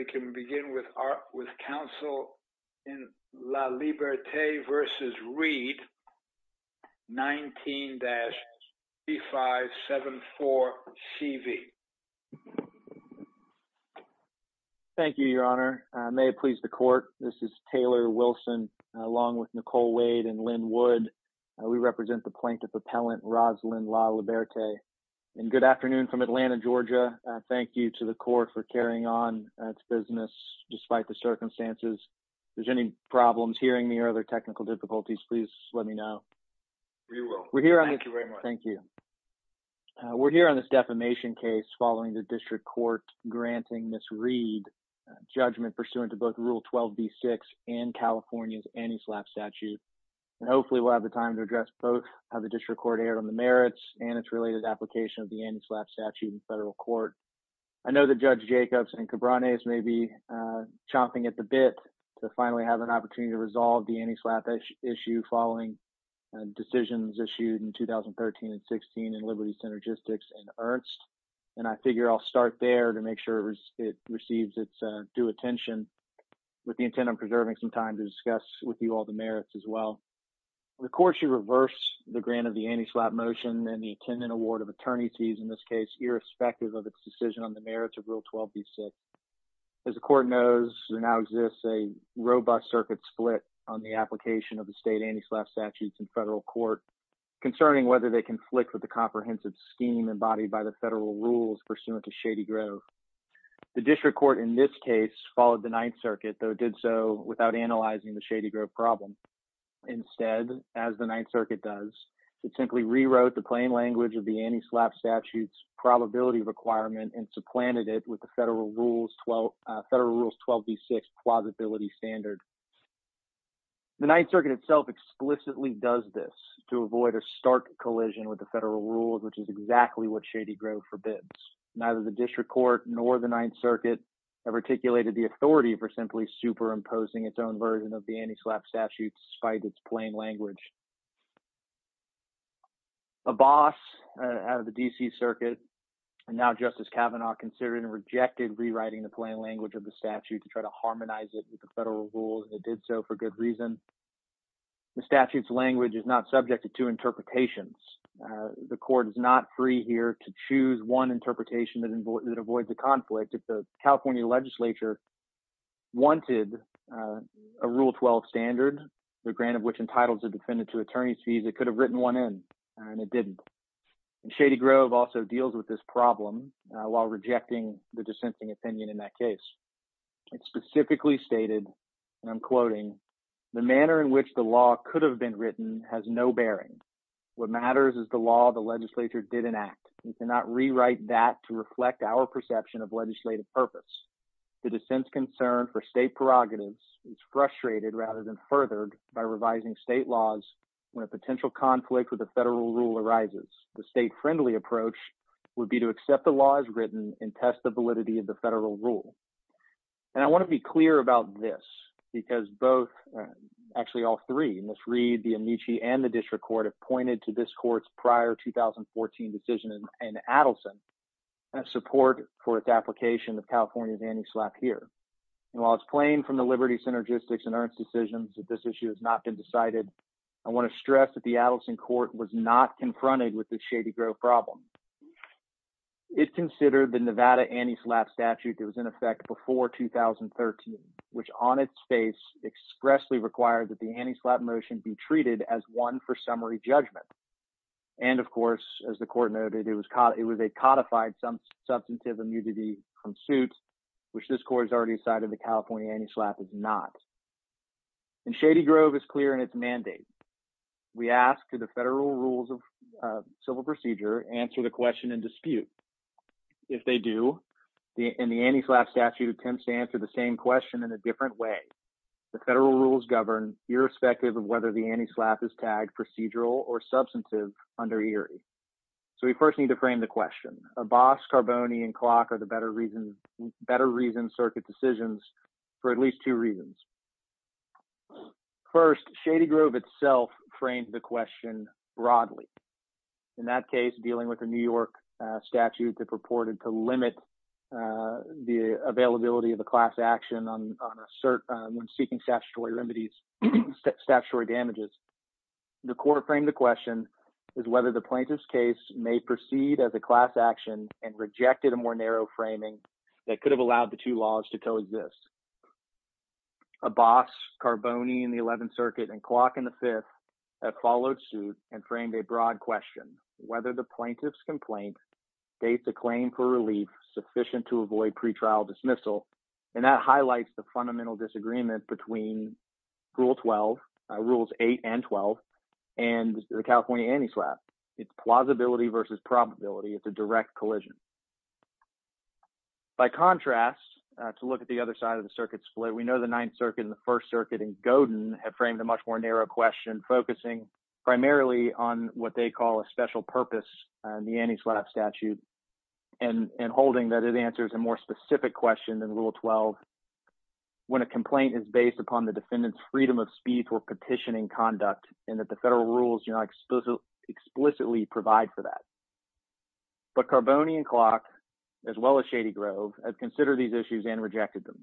19-3574CV. Thank you, Your Honor. May it please the Court, this is Taylor Wilson along with Nicole Wade and Lynn Wood. We represent the Plaintiff Appellant, Rosalyn La Liberte. Good afternoon, everyone, and thank you to the Court for carrying on its business despite the circumstances. If there's any problems, hearing me, or other technical difficulties, please let me know. We will. Thank you very much. Thank you. We're here on this defamation case following the District Court granting Ms. Reid a judgment pursuant to both Rule 12b-6 and California's anti-SLAPP statute, and hopefully we'll have the time to address both how the District Court erred on the merits and its related application of the anti-SLAPP statute in federal court. I know that Judge Jacobs and Cabranes may be chomping at the bit to finally have an opportunity to resolve the anti-SLAPP issue following decisions issued in 2013 and 16 in Liberty Synergistics and Ernst, and I figure I'll start there to make sure it receives its due attention with the intent of preserving some time to discuss with you all the merits as well. The Court should reverse the grant of the anti-SLAPP motion and the attendant award of attorneys' fees in this case irrespective of its decision on the merits of Rule 12b-6. As the Court knows, there now exists a robust circuit split on the application of the state anti-SLAPP statutes in federal court concerning whether they conflict with the comprehensive scheme embodied by the federal rules pursuant to Shady Grove. The District Court in this case followed the Ninth Circuit, though did so without analyzing the Shady Grove problem. Instead, as the Ninth Circuit does, it simply rewrote the plain language of the anti-SLAPP statute's probability requirement and supplanted it with the federal rules 12b-6 plausibility standard. The Ninth Circuit itself explicitly does this to avoid a stark collision with the federal rules, which is exactly what Shady Grove forbids. Neither the District Court nor the Ninth Circuit have articulated the authority for simply superimposing its own version of the anti-SLAPP statute despite its plain language. A boss out of the D.C. Circuit, now Justice Kavanaugh, considered and rejected rewriting the plain language of the statute to try to harmonize it with the federal rules, and it did so for good reason. The statute's language is not subject to two interpretations. The Court is not free here to choose one interpretation that avoids a conflict. If the California legislature wanted a rule 12 standard, the grant of which entitles a defendant to attorney's fees, it could have written one in, and it didn't. Shady Grove also deals with this problem while rejecting the dissenting opinion in that case. It specifically stated, and I'm quoting, the manner in which the law could have been written has no bearing. What matters is the law the legislature did enact. We cannot rewrite that to reflect our perception of legislative purpose. The dissent's concern for state prerogatives is frustrated rather than furthered by revising state laws when a potential conflict with the federal rule arises. The state-friendly approach would be to accept the law as written and test the validity of the federal rule. And I want to be clear about this because both, actually all three, Ms. Reed, the Amici, and the District Court have pointed to this Court's prior 2014 decision in Adelson and support for its application of California's anti-SLAPP here. And while it's plain from the Liberty Synergistics and Ernst decisions that this issue has not been decided, I want to stress that the Adelson Court was not confronted with the Shady Grove problem. It considered the Nevada anti-SLAPP statute that was in effect before 2013, which on its face expressly required that the anti-SLAPP motion be treated as one for summary judgment. And of course, as the Court noted, it was a codified substantive immunity suit, which this Court has already decided the California anti-SLAPP is not. And Shady Grove is clear in its mandate. We ask that the federal rules of civil procedure answer the question in dispute. If they do, and the anti-SLAPP statute attempts to answer the same question in a different way, the federal rules govern irrespective of whether the anti-SLAPP is tagged procedural or substantive under ERIE. So we first need to frame the question. Abbas, Carboni, and Klock are the better reason, better reason circuit decisions for at least two reasons. First, Shady Grove itself framed the question broadly. In that case, dealing with the New York statute that purported to limit the availability of a class action when seeking statutory remedies, statutory damages, the Court framed the question as whether the plaintiff's case may proceed as a class action and rejected a more narrow framing that could have allowed the two laws to coexist. Abbas, Carboni in the 11th Circuit, and Klock in the 5th have followed suit and framed a broad question, whether the plaintiff's complaint dates a claim for relief sufficient to avoid pretrial dismissal. And that highlights the fundamental disagreement between Rule 12, Rules 8 and 12, and the California anti-SLAPP. It's plausibility versus probability. It's a direct collision. By contrast, to look at the other side of the circuit split, we know the 9th Circuit and the 1st Circuit in Godin have framed a much more narrow question, focusing primarily on what they call a special purpose, the anti-SLAPP statute, and holding that it answers a more specific question than Rule 12, when a complaint is based upon the defendant's freedom of speech or petitioning conduct, and that the federal rules do not explicitly provide for that. But Carboni and Klock, as well as Shady Grove, have considered these issues and rejected them.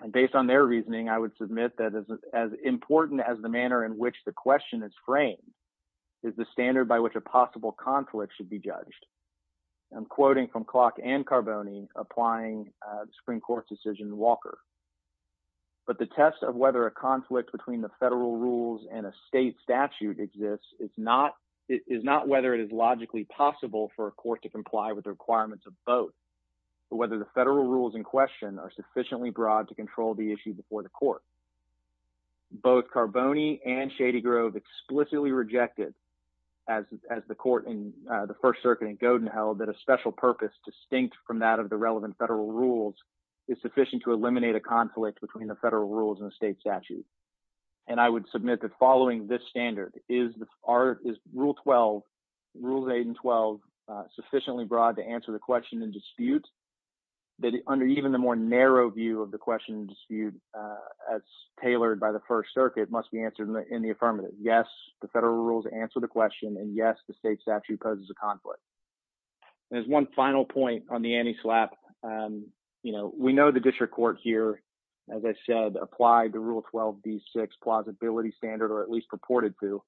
And based on their reasoning, I would submit that as important as the manner in which the question is framed is the standard by which a possible conflict should be judged. I'm quoting from Klock and Carboni, applying the Supreme Court's decision in Walker. But the test of whether a conflict between the federal rules and a state statute exists is not whether it is logically possible for a court to comply with the requirements of both, but whether the federal rules in question are sufficiently broad to control the issue before the court. Both Carboni and Shady Grove explicitly rejected, as the court in the 1st Circuit in Godin held, that a special purpose distinct from that of the relevant federal rules is sufficient to eliminate a conflict between the federal rules and the state statute. And I would submit that following this standard, is Rule 12, Rules 8 and 12, sufficiently broad to answer the question and dispute, that under even the more narrow view of the question and dispute, as tailored by the 1st Circuit, must be answered in the affirmative. Yes, the federal rules answer the question, and yes, the state statute poses a conflict. There's one final point on the anti-SLAPP. We know the district court here, as I said, applied the Rule 12, D6 plausibility standard, or at least purported to,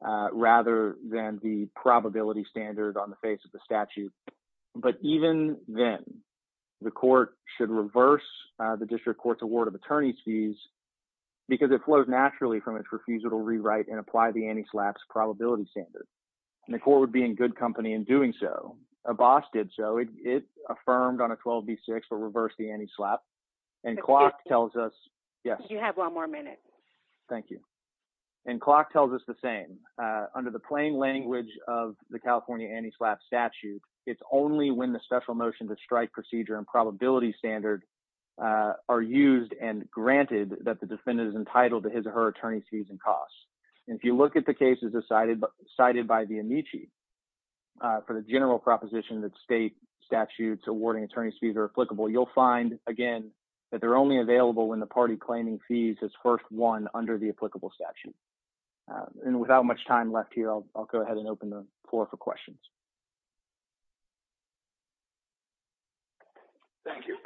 rather than the probability standard on the face of the statute. But even then, the court should reverse the district court's award of attorney's fees, because it flows naturally from its refusal to rewrite and apply the anti-SLAPP's probability standard. And the court would be in good company in doing so. Abbas did so. It affirmed on a 12, D6, but reversed the anti-SLAPP. And Clark tells us, yes. You have one more minute. Thank you. And Clark tells us the same. Under the plain language of the California anti-SLAPP statute, it's only when the special motion to strike procedure and probability standard are used and granted that the defendant is entitled to his or her attorney's fees and costs. And if you look at the cases cited by the Amici for the general proposition that state statutes awarding attorney's fees are applicable, you'll find, again, that they're only available when the party claiming fees is first won under the applicable statute. And without much time left here, I'll go ahead and open the floor for questions. Thank you.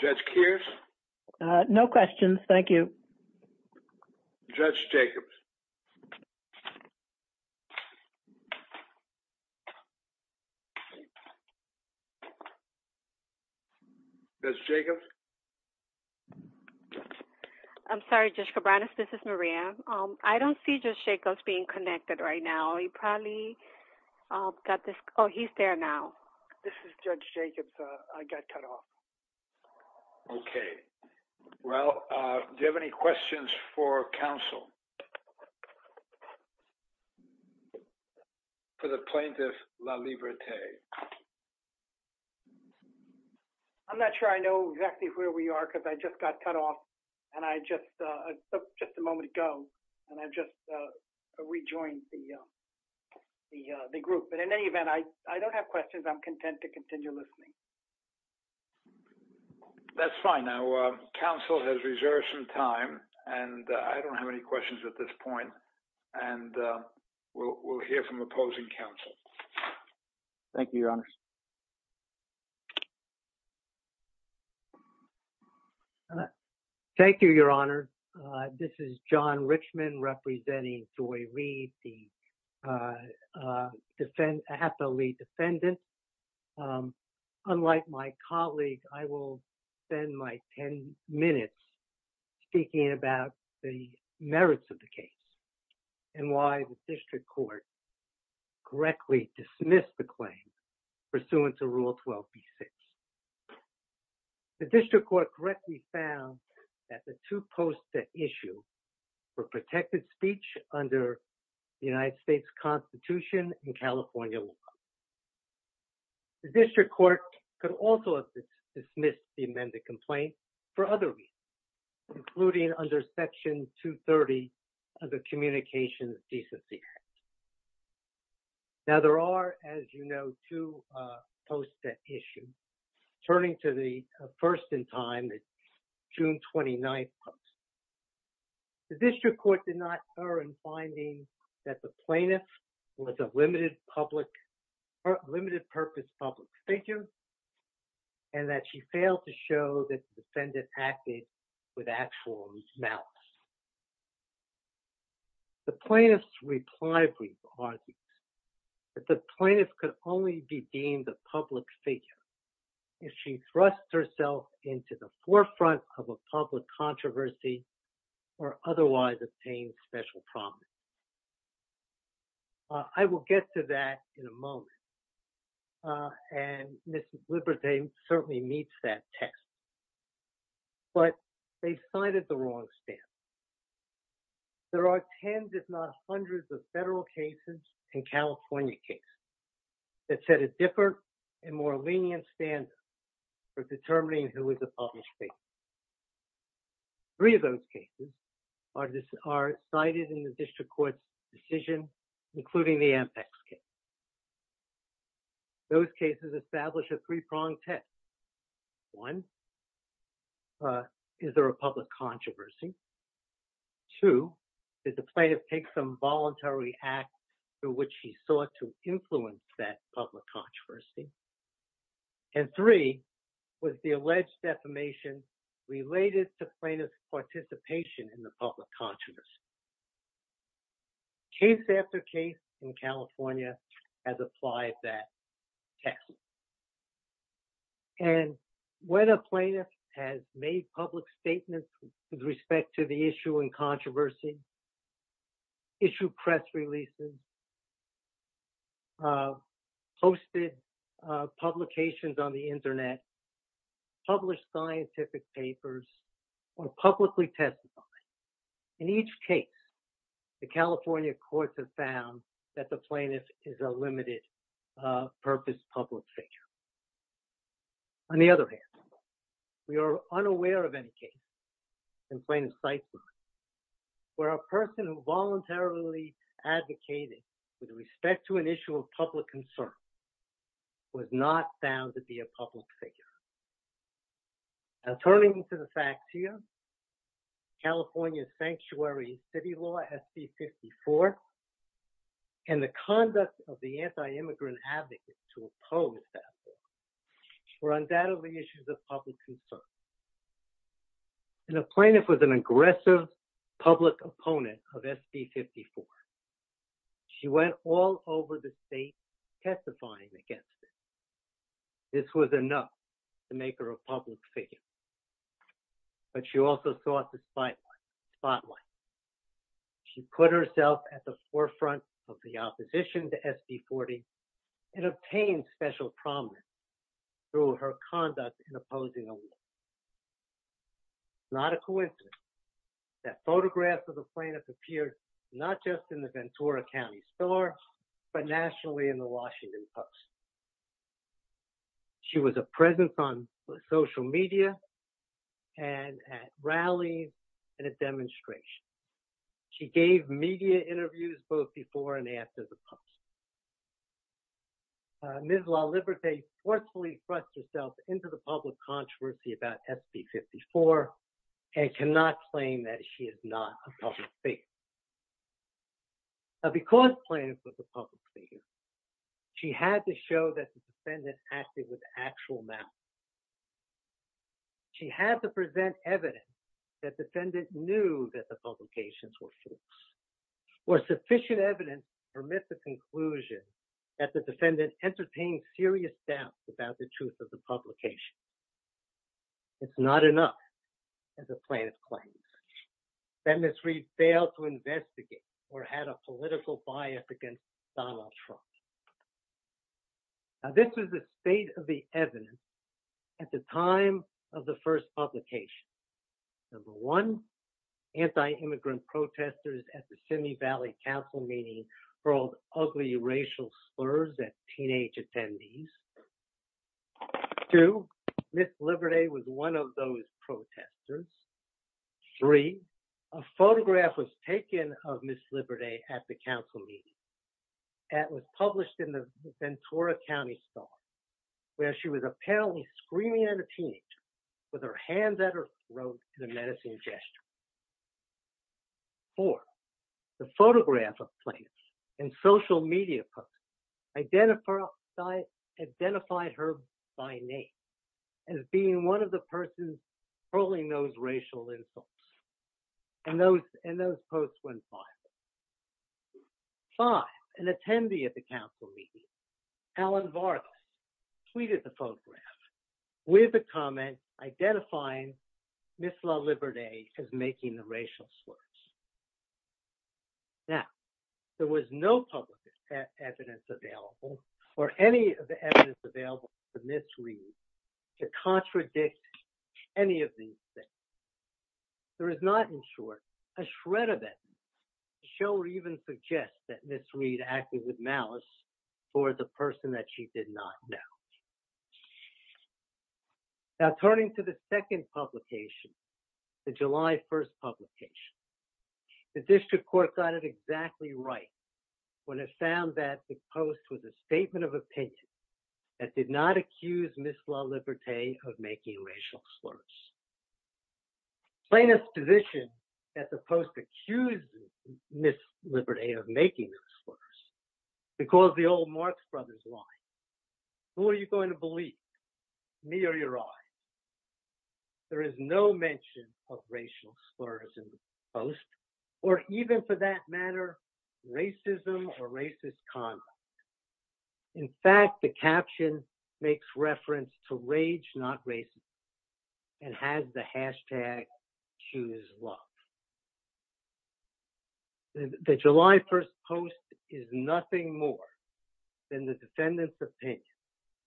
Judge Kears? No questions. Thank you. Judge Jacobs? I'm sorry, Judge Cabranes. This is Maria. I don't see Judge Jacobs being connected right now. He probably got this. Oh, he's there now. This is Judge Jacobs. I got cut off. Okay. Well, do you have any questions for counsel? For the plaintiff, La Liberté. I'm not sure I know exactly where we are because I just got cut off and I just took just a moment ago and I just rejoined the group. But in any event, I don't have questions. I'm content to continue listening. That's fine. Now, counsel has reserved some time and I don't have any questions at this point. And we'll hear from opposing counsel. Thank you, Your Honor. Thank you, Your Honor. This is John Richmond representing Joy Reed, the District Court. Unlike my colleague, I will spend my 10 minutes speaking about the merits of the case and why the District Court correctly dismissed the claim pursuant to Rule 12B6. The District Court correctly found that the two posts at issue were protected speech under the United States Constitution and California law. The District Court could also have dismissed the amended complaint for other reasons, including under Section 230 of the Communications Decency Act. Now, there are, as you know, two posts at issue. Turning to the first in time, the plaintiff was a limited public or limited purpose public figure and that she failed to show that the defendant acted with actual malice. The plaintiff's reply brief argues that the plaintiff could only be deemed a public figure if she thrusts herself into the forefront of a public controversy or otherwise obtained special promise. I will get to that in a moment. And Mrs. Liberté certainly meets that test. But they cited the wrong stand. There are tens, if not hundreds, of federal cases and California cases that set a different and more lenient standard for determining who is a public figure. Three of those cases are cited in the District Court's decision, including the Ampex case. Those cases establish a three-pronged test. One, is there a public controversy? Two, did the plaintiff take some voluntary act through which she sought to influence that public controversy? And three, was the alleged defamation related to plaintiff's participation in the public controversy? Case after case in California has applied that test. And when a plaintiff has made public statements with respect to the issue and controversy, issued press releases, posted publications on the internet, published scientific papers, or publicly testified, in each case, the California courts have found that the plaintiff is a limited purpose public figure. On the other hand, we are unaware of any case in plaintiff's life where a person who voluntarily advocated with respect to an issue of public concern was not found to be a public figure. Now, turning to the facts here, California's sanctuary city law, SC-54, and the conduct of the anti-immigrant advocate to oppose that law were undoubtedly issues of public concern. And the plaintiff was an aggressive public opponent of SC-54. She went all over the state testifying against it. This was enough to make her a public figure. But she also saw the spotlight. She put herself at the forefront of the opposition to SC-40 and obtained special prominence through her conduct in opposing a law. It's not a coincidence that photographs of the plaintiff appeared not just in the Ventura County store, but nationally in the Washington Post. She was a presence on social media and at rallies and at demonstrations. She gave media interviews both before and after the post. Ms. LaLiberté forcefully thrust herself into the public controversy about SC-54 and cannot claim that she is not a public figure. Now, because plaintiff was a public figure, she had to show that the defendant acted with actual malice. She had to present evidence that defendant knew that the publications were false. Or sufficient evidence permits the conclusion that the defendant entertained serious doubts about the truth of the publication. It's not enough, as the plaintiff claims. That Ms. Reid failed to investigate or had a political bias against Donald Trump. Now, this is the state of the evidence at the time of the first publication. Number one, anti-immigrant protesters at the Simi Valley Council meeting hurled ugly racial slurs at teenage attendees. Two, Ms. LaLiberté was one of those protesters. Three, a photograph was taken of Ms. LaLiberté at the council meeting. That was published in the Ventura County store, where she was apparently screaming at a teenager with her hands at her throat in a menacing gesture. Four, the photograph of plaintiffs and social media posts identified her by name as being one of the persons hurling those racial insults. And those posts went viral. Five, an attendee at the identifying Ms. LaLiberté as making the racial slurs. Now, there was no public evidence available or any of the evidence available to Ms. Reid to contradict any of these things. There is not, in short, a shred of evidence to show or even suggest that Ms. Reid acted with malice toward the person that she did not know. Now, turning to the second publication, the July 1st publication, the district court got it exactly right when it found that the post was a statement of opinion that did not accuse Ms. LaLiberté of making racial slurs. Plaintiffs' position that the post accused Ms. LaLiberté of making those slurs because the old Marx Brothers line, who are you going to believe, me or your eyes? There is no mention of racial slurs in the post or even for that matter, racism or racist conduct. In fact, the caption makes reference to rage not racism and has the hashtag choose love. The July 1st post is nothing more than the defendant's opinion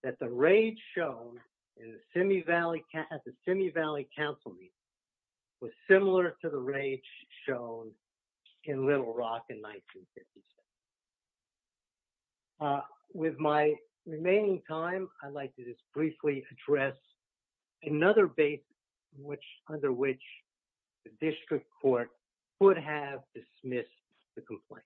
that the rage shown at the Simi Valley Council meeting was similar to the rage shown in Little Rock in 1956. With my remaining time, I'd like to just briefly address another base under which the district court would have dismissed the complaint.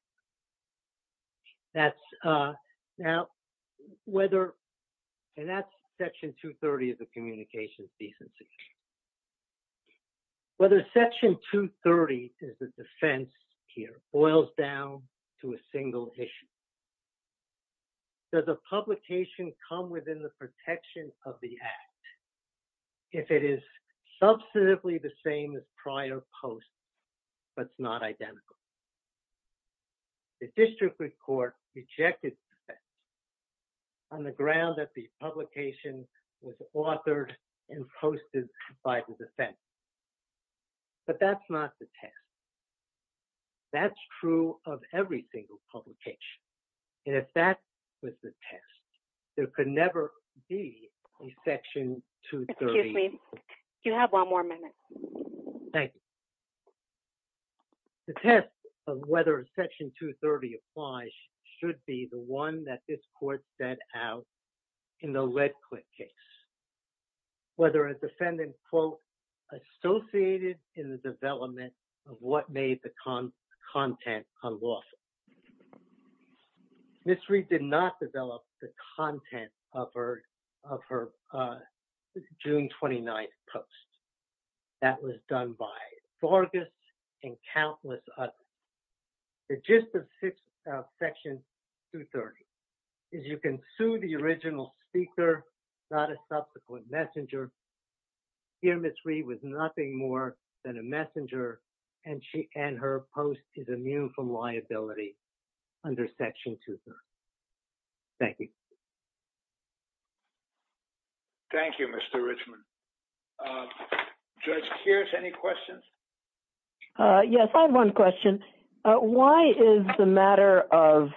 And that's section 230 of the communications decency. Whether section 230 is the defense here boils down to a single issue. Does the publication come within the protection of the act if it is substantively the same as but it's not identical? The district court rejected that on the ground that the publication was authored and posted by the defense. But that's not the test. That's true of every single publication. And if that was the test, there could never be a section 230. Excuse me, you have one more minute. Thank you. The test of whether section 230 applies should be the one that this court set out in the Redcliffe case. Whether a defendant quote, associated in the development of what made the content unlawful. Ms. Reed did not develop the content of her June 29th post. That was done by Vargas and countless others. The gist of section 230 is you can sue the original speaker, not a subsequent messenger. Here Ms. Reed was nothing more than a messenger and her post is immune from liability under section 230. Thank you. Thank you, Mr. Richman. Judge Kears, any questions? Yes, I have one question. Why is the matter of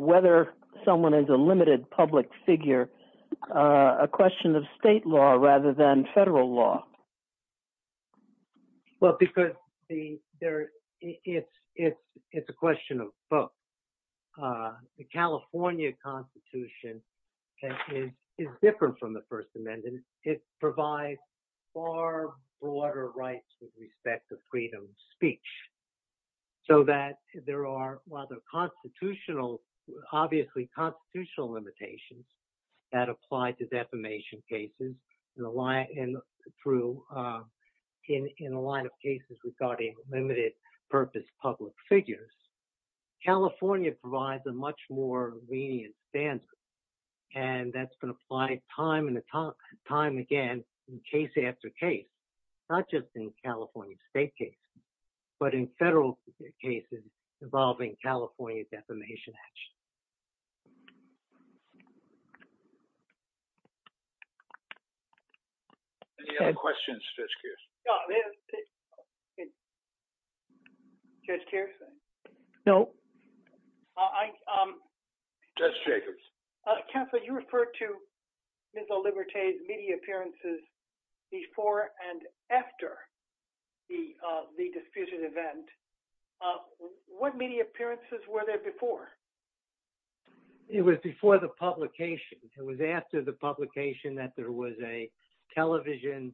whether someone is a limited public figure a question of state law rather than federal law? Well, because it's a question of both. The California Constitution is different from the First Amendment. It provides far broader rights with respect to freedom of speech. So that there are, while there are constitutional, obviously constitutional limitations that apply to defamation cases in a line of cases regarding limited purpose public figures. California provides a much more lenient standard and that's going to apply time and time again in case after case, not just in California state case, but in federal cases involving California defamation action. Any other questions, Judge Kears? No. Judge Jacobs. Counselor, you referred to Ms. Oliberte's media appearances before and after the disputed event. What media appearances were there before? It was before the publication. It was after the publication that there was a television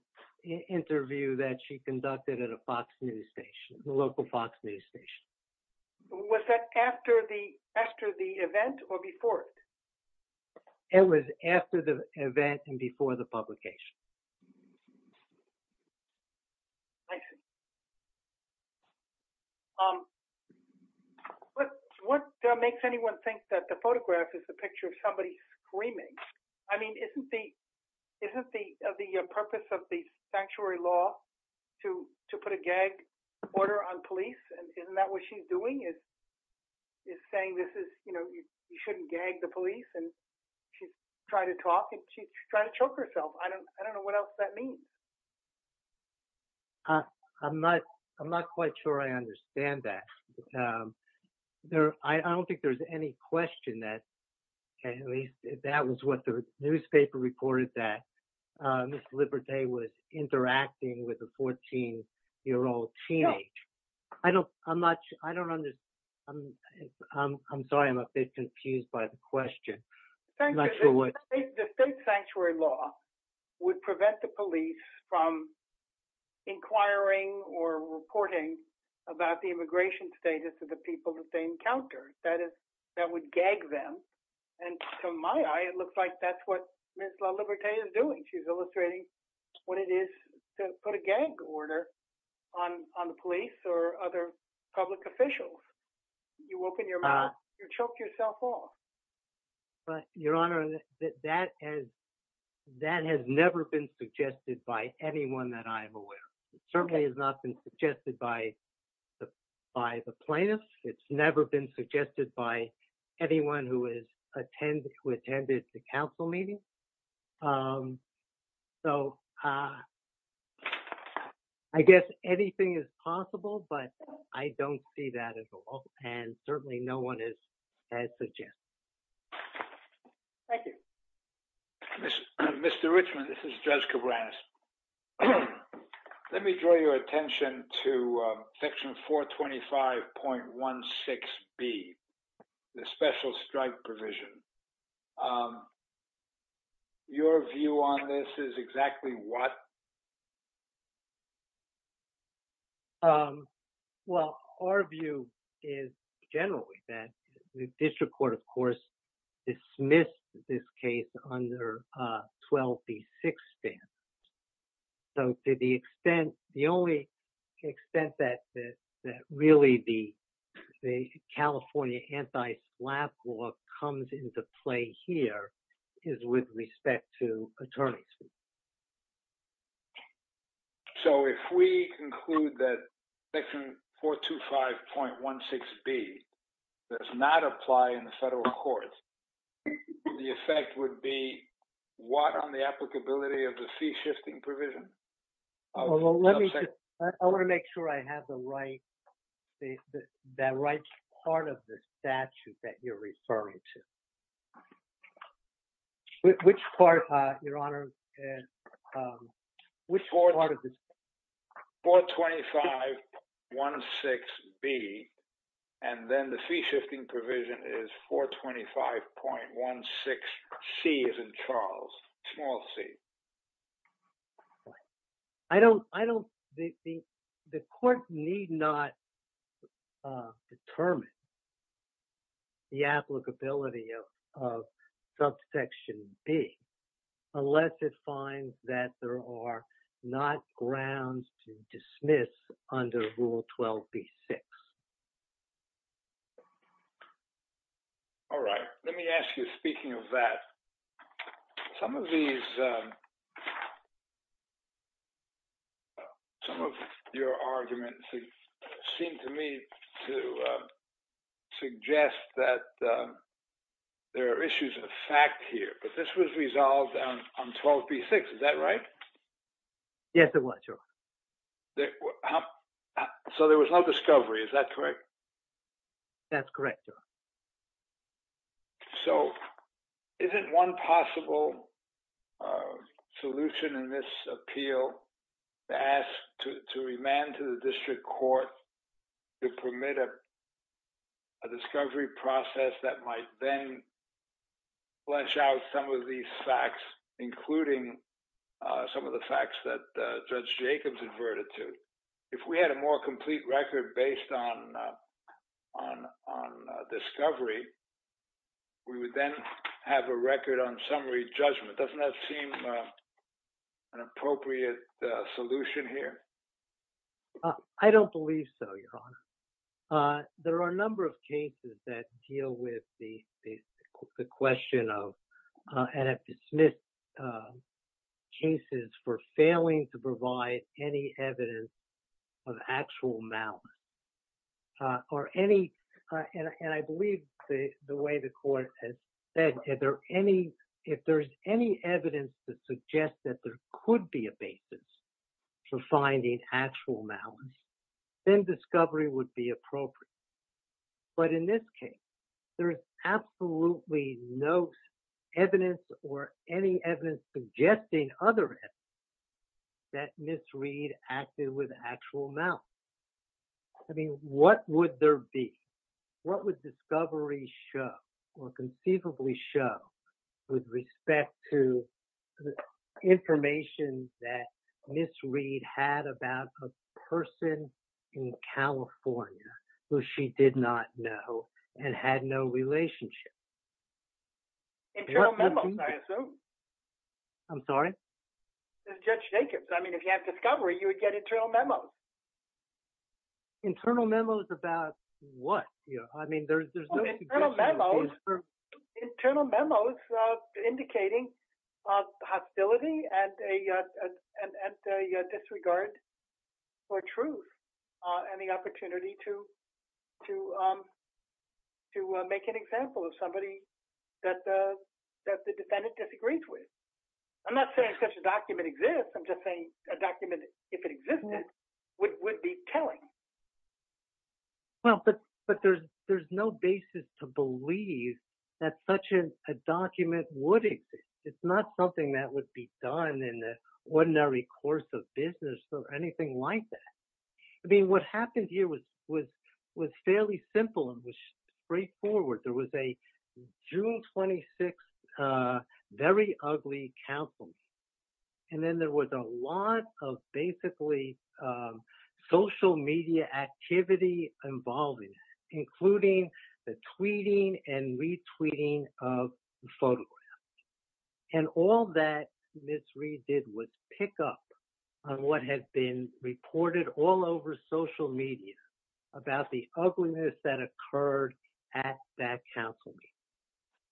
interview that she conducted at a Fox News station, a local Fox News station. Was that after the event or before it? It was after the event and before the publication. I see. What makes anyone think that the photograph is a picture of somebody screaming? I mean, isn't the purpose of the sanctuary law to put a gag order on police? Isn't that what she's doing is saying this is, you know, you shouldn't gag the police and she's trying to talk and she's trying to choke herself. I don't know what else that means. I'm not quite sure I understand that. I don't think there's any question that if that was what the newspaper reported that Ms. Oliberte was interacting with a 14-year-old teenage. I don't I'm not sure. I don't understand. I'm sorry I'm a bit confused by the question. The state sanctuary law would prevent the police from inquiring or reporting about the and to my eye, it looks like that's what Ms. Oliberte is doing. She's illustrating what it is to put a gag order on the police or other public officials. You open your mouth, you choke yourself off. But Your Honor, that has never been suggested by anyone that I'm aware. It certainly has not been suggested by the plaintiffs. It's never been suggested by anyone who attended the council meeting. So I guess anything is possible, but I don't see that at all. And certainly no one has the chance. Thank you. Mr. Richman, this is Judge Cabranes. Let me draw your attention to section 425.16b, the special strike provision. Your view on this is exactly what? Well, our view is generally that the district court, of course, dismissed this case under 12b6 ban. So to the extent, the only extent that really the California anti-slap law comes into play here is with respect to attorney's fees. So if we conclude that section 425.16b does not apply in the federal court, the effect would be what on the applicability of the fee shifting provision? I want to make sure I have the right part of the statute that you're referring to. Which part, your honor? 425.16b and then the fee shifting provision is 425.16c as in Charles, small c. The court need not determine the applicability of subsection b unless it finds that there are not grounds to dismiss under rule 12b6. All right. Let me ask you, speaking of that, some of these, some of your arguments seem to me to suggest that there are issues of fact here, but this was resolved on 12b6. Is that right? Yes, it was, your honor. So there was no discovery, is that correct? That's correct, your honor. So isn't one possible solution in this appeal to ask, to remand to the district court to permit a discovery process that might then flesh out some of these facts, including some of the facts that Judge Jacobs referred to? If we had a more complete record based on discovery, we would then have a record on summary judgment. Doesn't that seem an appropriate solution here? I don't believe so, your honor. There are a number of cases that deal with the question of, and have dismissed cases for failing to provide any evidence of actual malice. And I believe the way the court has said, if there's any evidence to suggest that there could be a basis for finding actual malice, then discovery would be appropriate. But in this case, there is absolutely no evidence or any evidence suggesting other evidence that Ms. Reed acted with actual malice. I mean, what would there be? What would discovery show or conceivably show with respect to the information that Ms. Reed had about a person in California who she did not know and had no relationship? Internal memos, I assume. I'm sorry? Judge Jacobs. I mean, if you have discovery, you would get internal memos. Internal memos about what? I mean, there's no internal memos indicating hostility and a disregard for truth and the opportunity to make an example of somebody that the defendant disagrees with. I'm not saying such a document exists. I'm just saying a document, if it existed, would be telling. Well, but there's no basis to believe that such a document would exist. It's not something that would be done in the ordinary course of business or anything like that. I mean, what happened here was fairly simple and was straightforward. There was a June 26, very ugly counsel. And then there was a lot of basically social media activity involving, including the tweeting and retweeting of the photograph. And all that Ms. Reed did was pick up on what had been reported all over social media about the ugliness that occurred at that counsel meeting.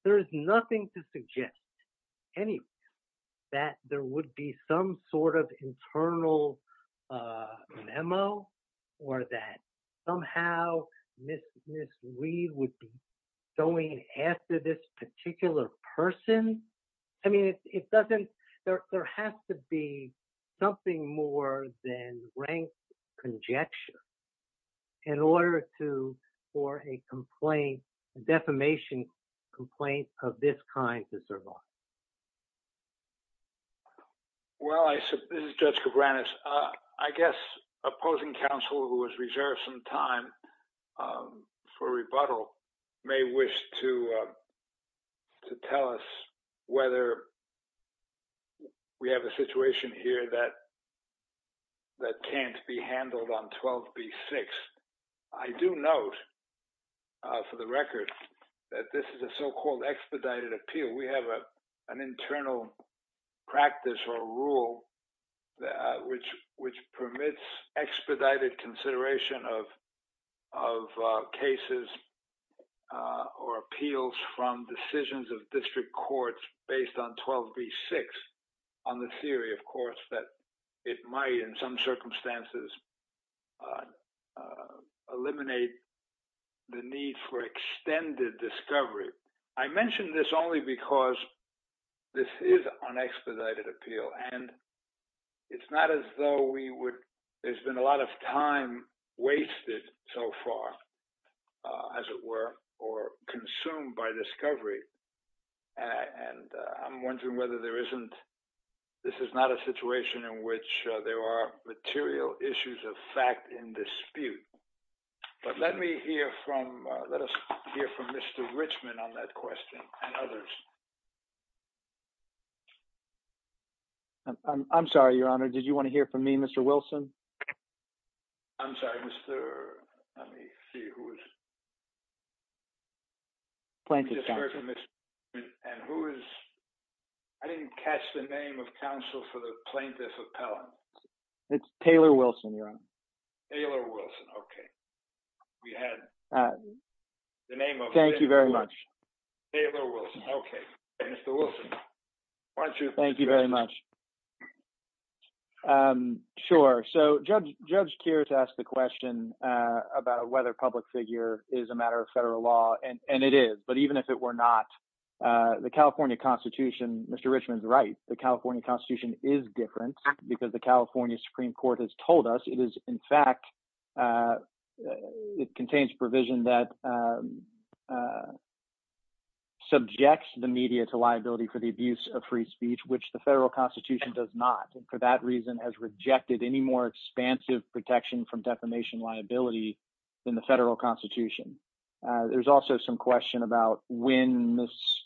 There is nothing to suggest anyway that there would be some sort of internal memo or that somehow Ms. Reed would be going after this particular person. I mean, it doesn't, there has to be something more than rank conjecture in order to, for a complaint, defamation complaint of this kind to survive. Well, this is Judge Cabranes. I guess opposing counsel who has reserved some time for rebuttal may wish to tell us whether we have a situation here that can't be handled on 12B6. I do note for the record that this is a so-called expedited appeal. We have an internal practice or rule which permits expedited consideration of cases or appeals from decisions of district courts based on 12B6 on the theory, of course, that it might in some circumstances eliminate the need for extended discovery. I mentioned this only because this is an expedited appeal and it's not as though we would, there's been a lot of time wasted so far, as it were, or consumed by discovery. And I'm wondering whether there isn't, this is not a situation in which there are material issues of fact in dispute. But let me hear from, let us hear from Mr. Richman on that question and others. I'm sorry, Your Honor. Did you want to hear from me, Mr. Wilson? I'm sorry, Mr., let me see who is, plaintiff counsel. I didn't catch the name of counsel for the plaintiff appellant. It's Taylor Wilson, Your Honor. Taylor Wilson, okay. We had the name of. Thank you very much. Taylor Wilson, okay. Mr. Wilson, why don't you. Thank you very much. Sure. So Judge Keir has asked the question about whether public figure is a matter of federal law and it is, but even if it were not, the California constitution, Mr. Richman's right, the California constitution is different because the California Supreme Court has told us it is, in fact, it contains provision that subjects the media to liability for the abuse of free speech, which the federal constitution does not. And for that reason has rejected any more expansive protection from defamation liability than the federal constitution. There's also some question about when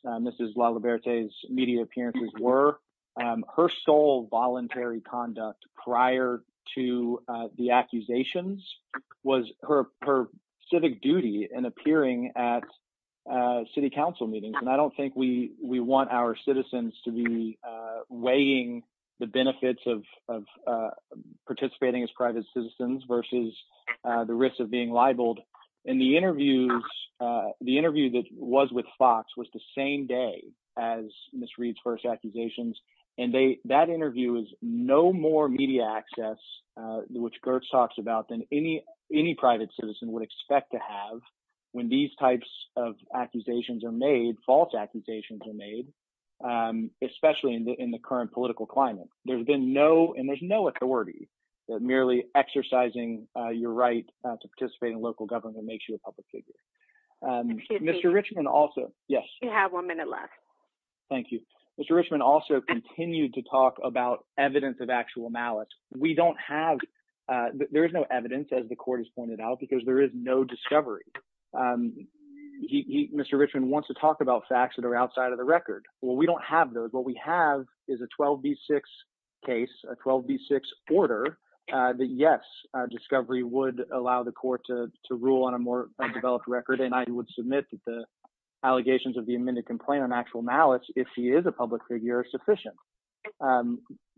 Mrs. LaLiberte's media appearances were. Her sole voluntary conduct prior to the accusations was her civic duty and appearing at city council meetings. And I don't think we want our citizens to be weighing the benefits of participating as private citizens versus the risks of being libeled. And the interviews, the interview that was with Fox was the same day as Ms. Reed's first accusations. And that interview is no more media access, which Gertz talks about, than any private citizen would expect to have when these types of accusations are made, false accusations are made, especially in the authority that merely exercising your right to participate in local government makes you a public figure. Mr. Richman also, yes. You have one minute left. Thank you. Mr. Richman also continued to talk about evidence of actual malice. We don't have, there is no evidence as the court has pointed out, because there is no discovery. Mr. Richman wants to talk about facts that are in the 1986 order, that yes, discovery would allow the court to rule on a more developed record. And I would submit that the allegations of the amended complaint on actual malice, if he is a public figure, are sufficient.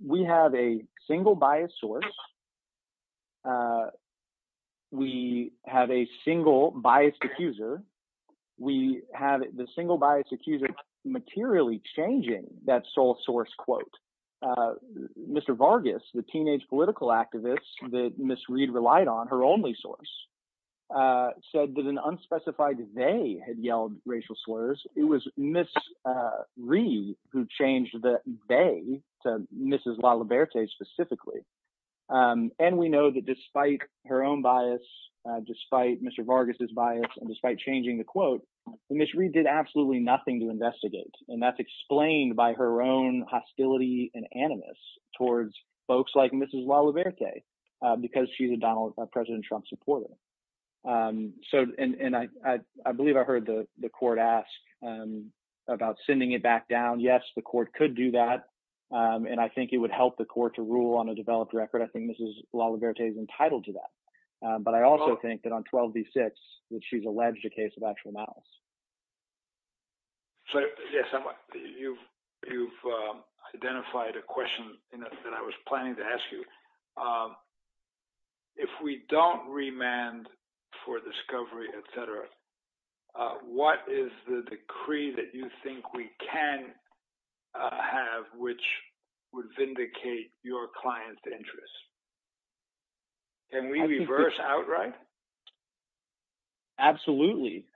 We have a single biased source. We have a single biased accuser. We have the single biased accuser materially changing that teenage political activists that Ms. Reed relied on, her only source, said that an unspecified they had yelled racial slurs. It was Ms. Reed who changed the they to Mrs. LaLiberte specifically. And we know that despite her own bias, despite Mr. Vargas' bias, and despite changing the quote, Ms. Reed did absolutely nothing to investigate. And that's Mrs. LaLiberte, because she's a Donald Trump supporter. And I believe I heard the court ask about sending it back down. Yes, the court could do that. And I think it would help the court to rule on a developed record. I think Mrs. LaLiberte is entitled to that. But I also think that on 12 v. 6, that she's alleged a case of actual malice. So, yes, you've identified a question that I was going to ask you. If we don't remand for discovery, etc., what is the decree that you think we can have, which would vindicate your client's interests? Can we reverse outright? Absolutely.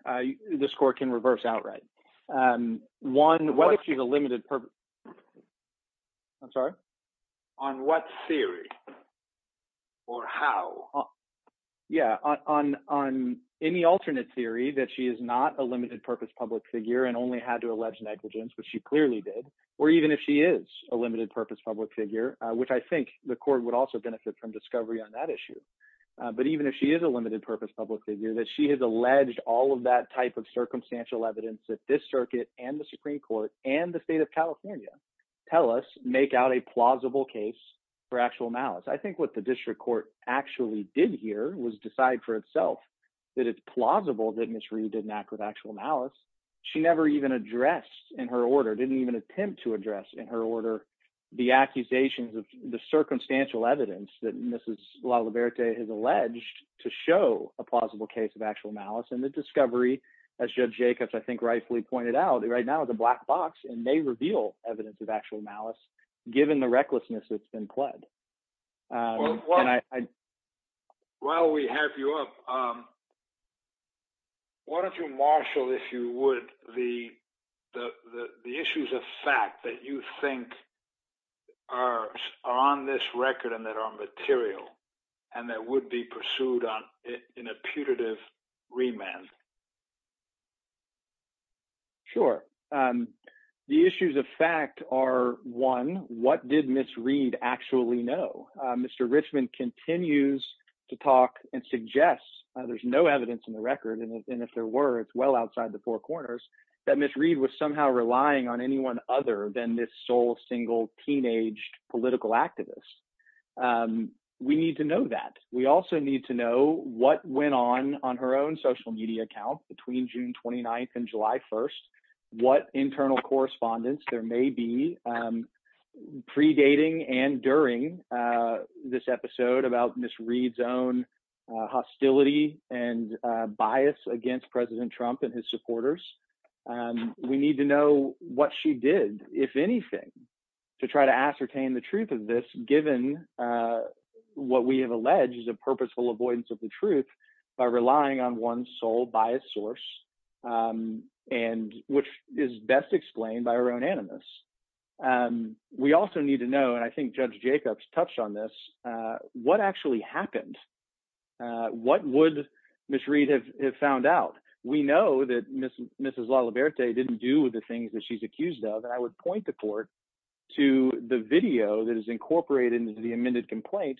This court can reverse outright. One, what if you have a limited purpose? I'm sorry? On what theory or how? Yeah, on any alternate theory that she is not a limited purpose public figure and only had to allege negligence, which she clearly did, or even if she is a limited purpose public figure, which I think the court would also benefit from discovery on that issue. But even if she is a limited purpose public figure, that she has alleged all of that type of circumstantial evidence that this circuit and the Supreme Court and the state of California tell us make out a plausible case for actual malice. I think what the district court actually did here was decide for itself that it's plausible that Ms. Reed didn't act with actual malice. She never even addressed in her order, didn't even attempt to address in her order, the accusations of the circumstantial evidence that Mrs. LaLiberte has alleged to show a plausible case of actual malice. And the discovery, as Judge Jacobs, rightfully pointed out, right now is a black box and may reveal evidence of actual malice, given the recklessness that's been pled. While we have you up, why don't you marshal, if you would, the issues of fact that you think are on this record and that are material and that would be pursued in a putative remand? Sure. The issues of fact are, one, what did Ms. Reed actually know? Mr. Richman continues to talk and suggest, there's no evidence in the record, and if there were, it's well outside the four corners, that Ms. Reed was somehow relying on anyone other than this sole, single, teenaged political activist. We need to know that. We also need to know what went on on her own social media account between June 29th and July 1st, what internal correspondence there may be predating and during this episode about Ms. Reed's own hostility and bias against President Trump and his supporters. We need to know what she did, if anything, to try to ascertain the truth of this, given what we have alleged is a purposeful avoidance of the truth by relying on one's sole biased source, which is best explained by her own animus. We also need to know, and I think Judge Jacobs touched on this, what actually happened. What would Ms. Reed have found out? We know that Mrs. LaLiberte didn't do the things that she's accused of, and I would point the court to the video that is incorporated into the amended complaint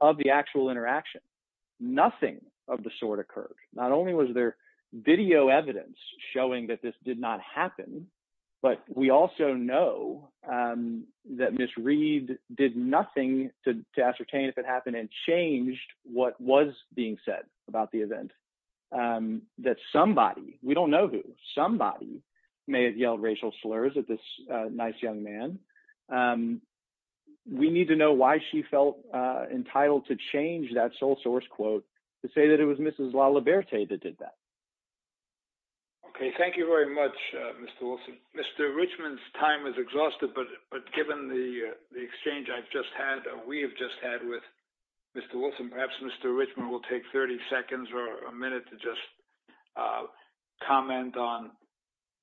of the actual interaction. Nothing of the sort occurred. Not only was there video evidence showing that this did not happen, but we also know that Ms. Reed did nothing to ascertain if it happened and changed what was being said about the event, that somebody, we don't know who, somebody may have yelled racial slurs at this nice young man. We need to know why she felt entitled to change that sole source quote to say that it was Mrs. LaLiberte that did that. Okay. Thank you very much, Mr. Wilson. Mr. Richmond's time is exhausted, but given the exchange we have just had with Mr. Wilson, perhaps Mr. Richmond will take 30 seconds or a minute to just comment on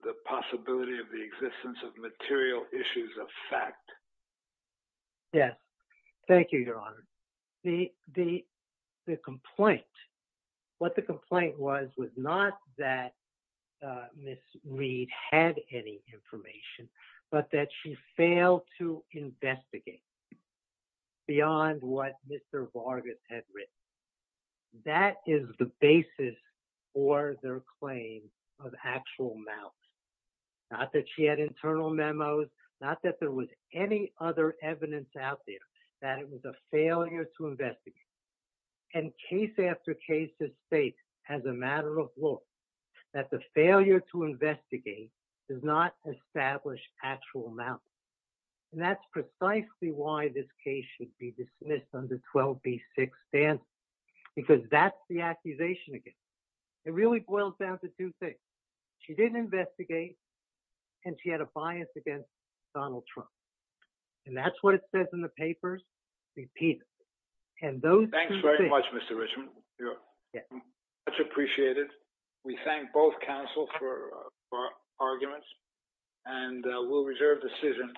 the possibility of the material issues of fact. Yes. Thank you, Your Honor. The complaint, what the complaint was, was not that Ms. Reed had any information, but that she failed to investigate beyond what Mr. Richmond said. She said she had internal memos, not that there was any other evidence out there, that it was a failure to investigate. And case after case has stated, as a matter of law, that the failure to investigate does not establish actual amount. And that's precisely why this case should be dismissed under 12B6 stance, because that's the accusation against her. It really comes down to two things. She didn't investigate, and she had a bias against Donald Trump. And that's what it says in the papers repeatedly. And those... Thanks very much, Mr. Richmond. Much appreciated. We thank both counsel for arguments, and we'll reserve the decision.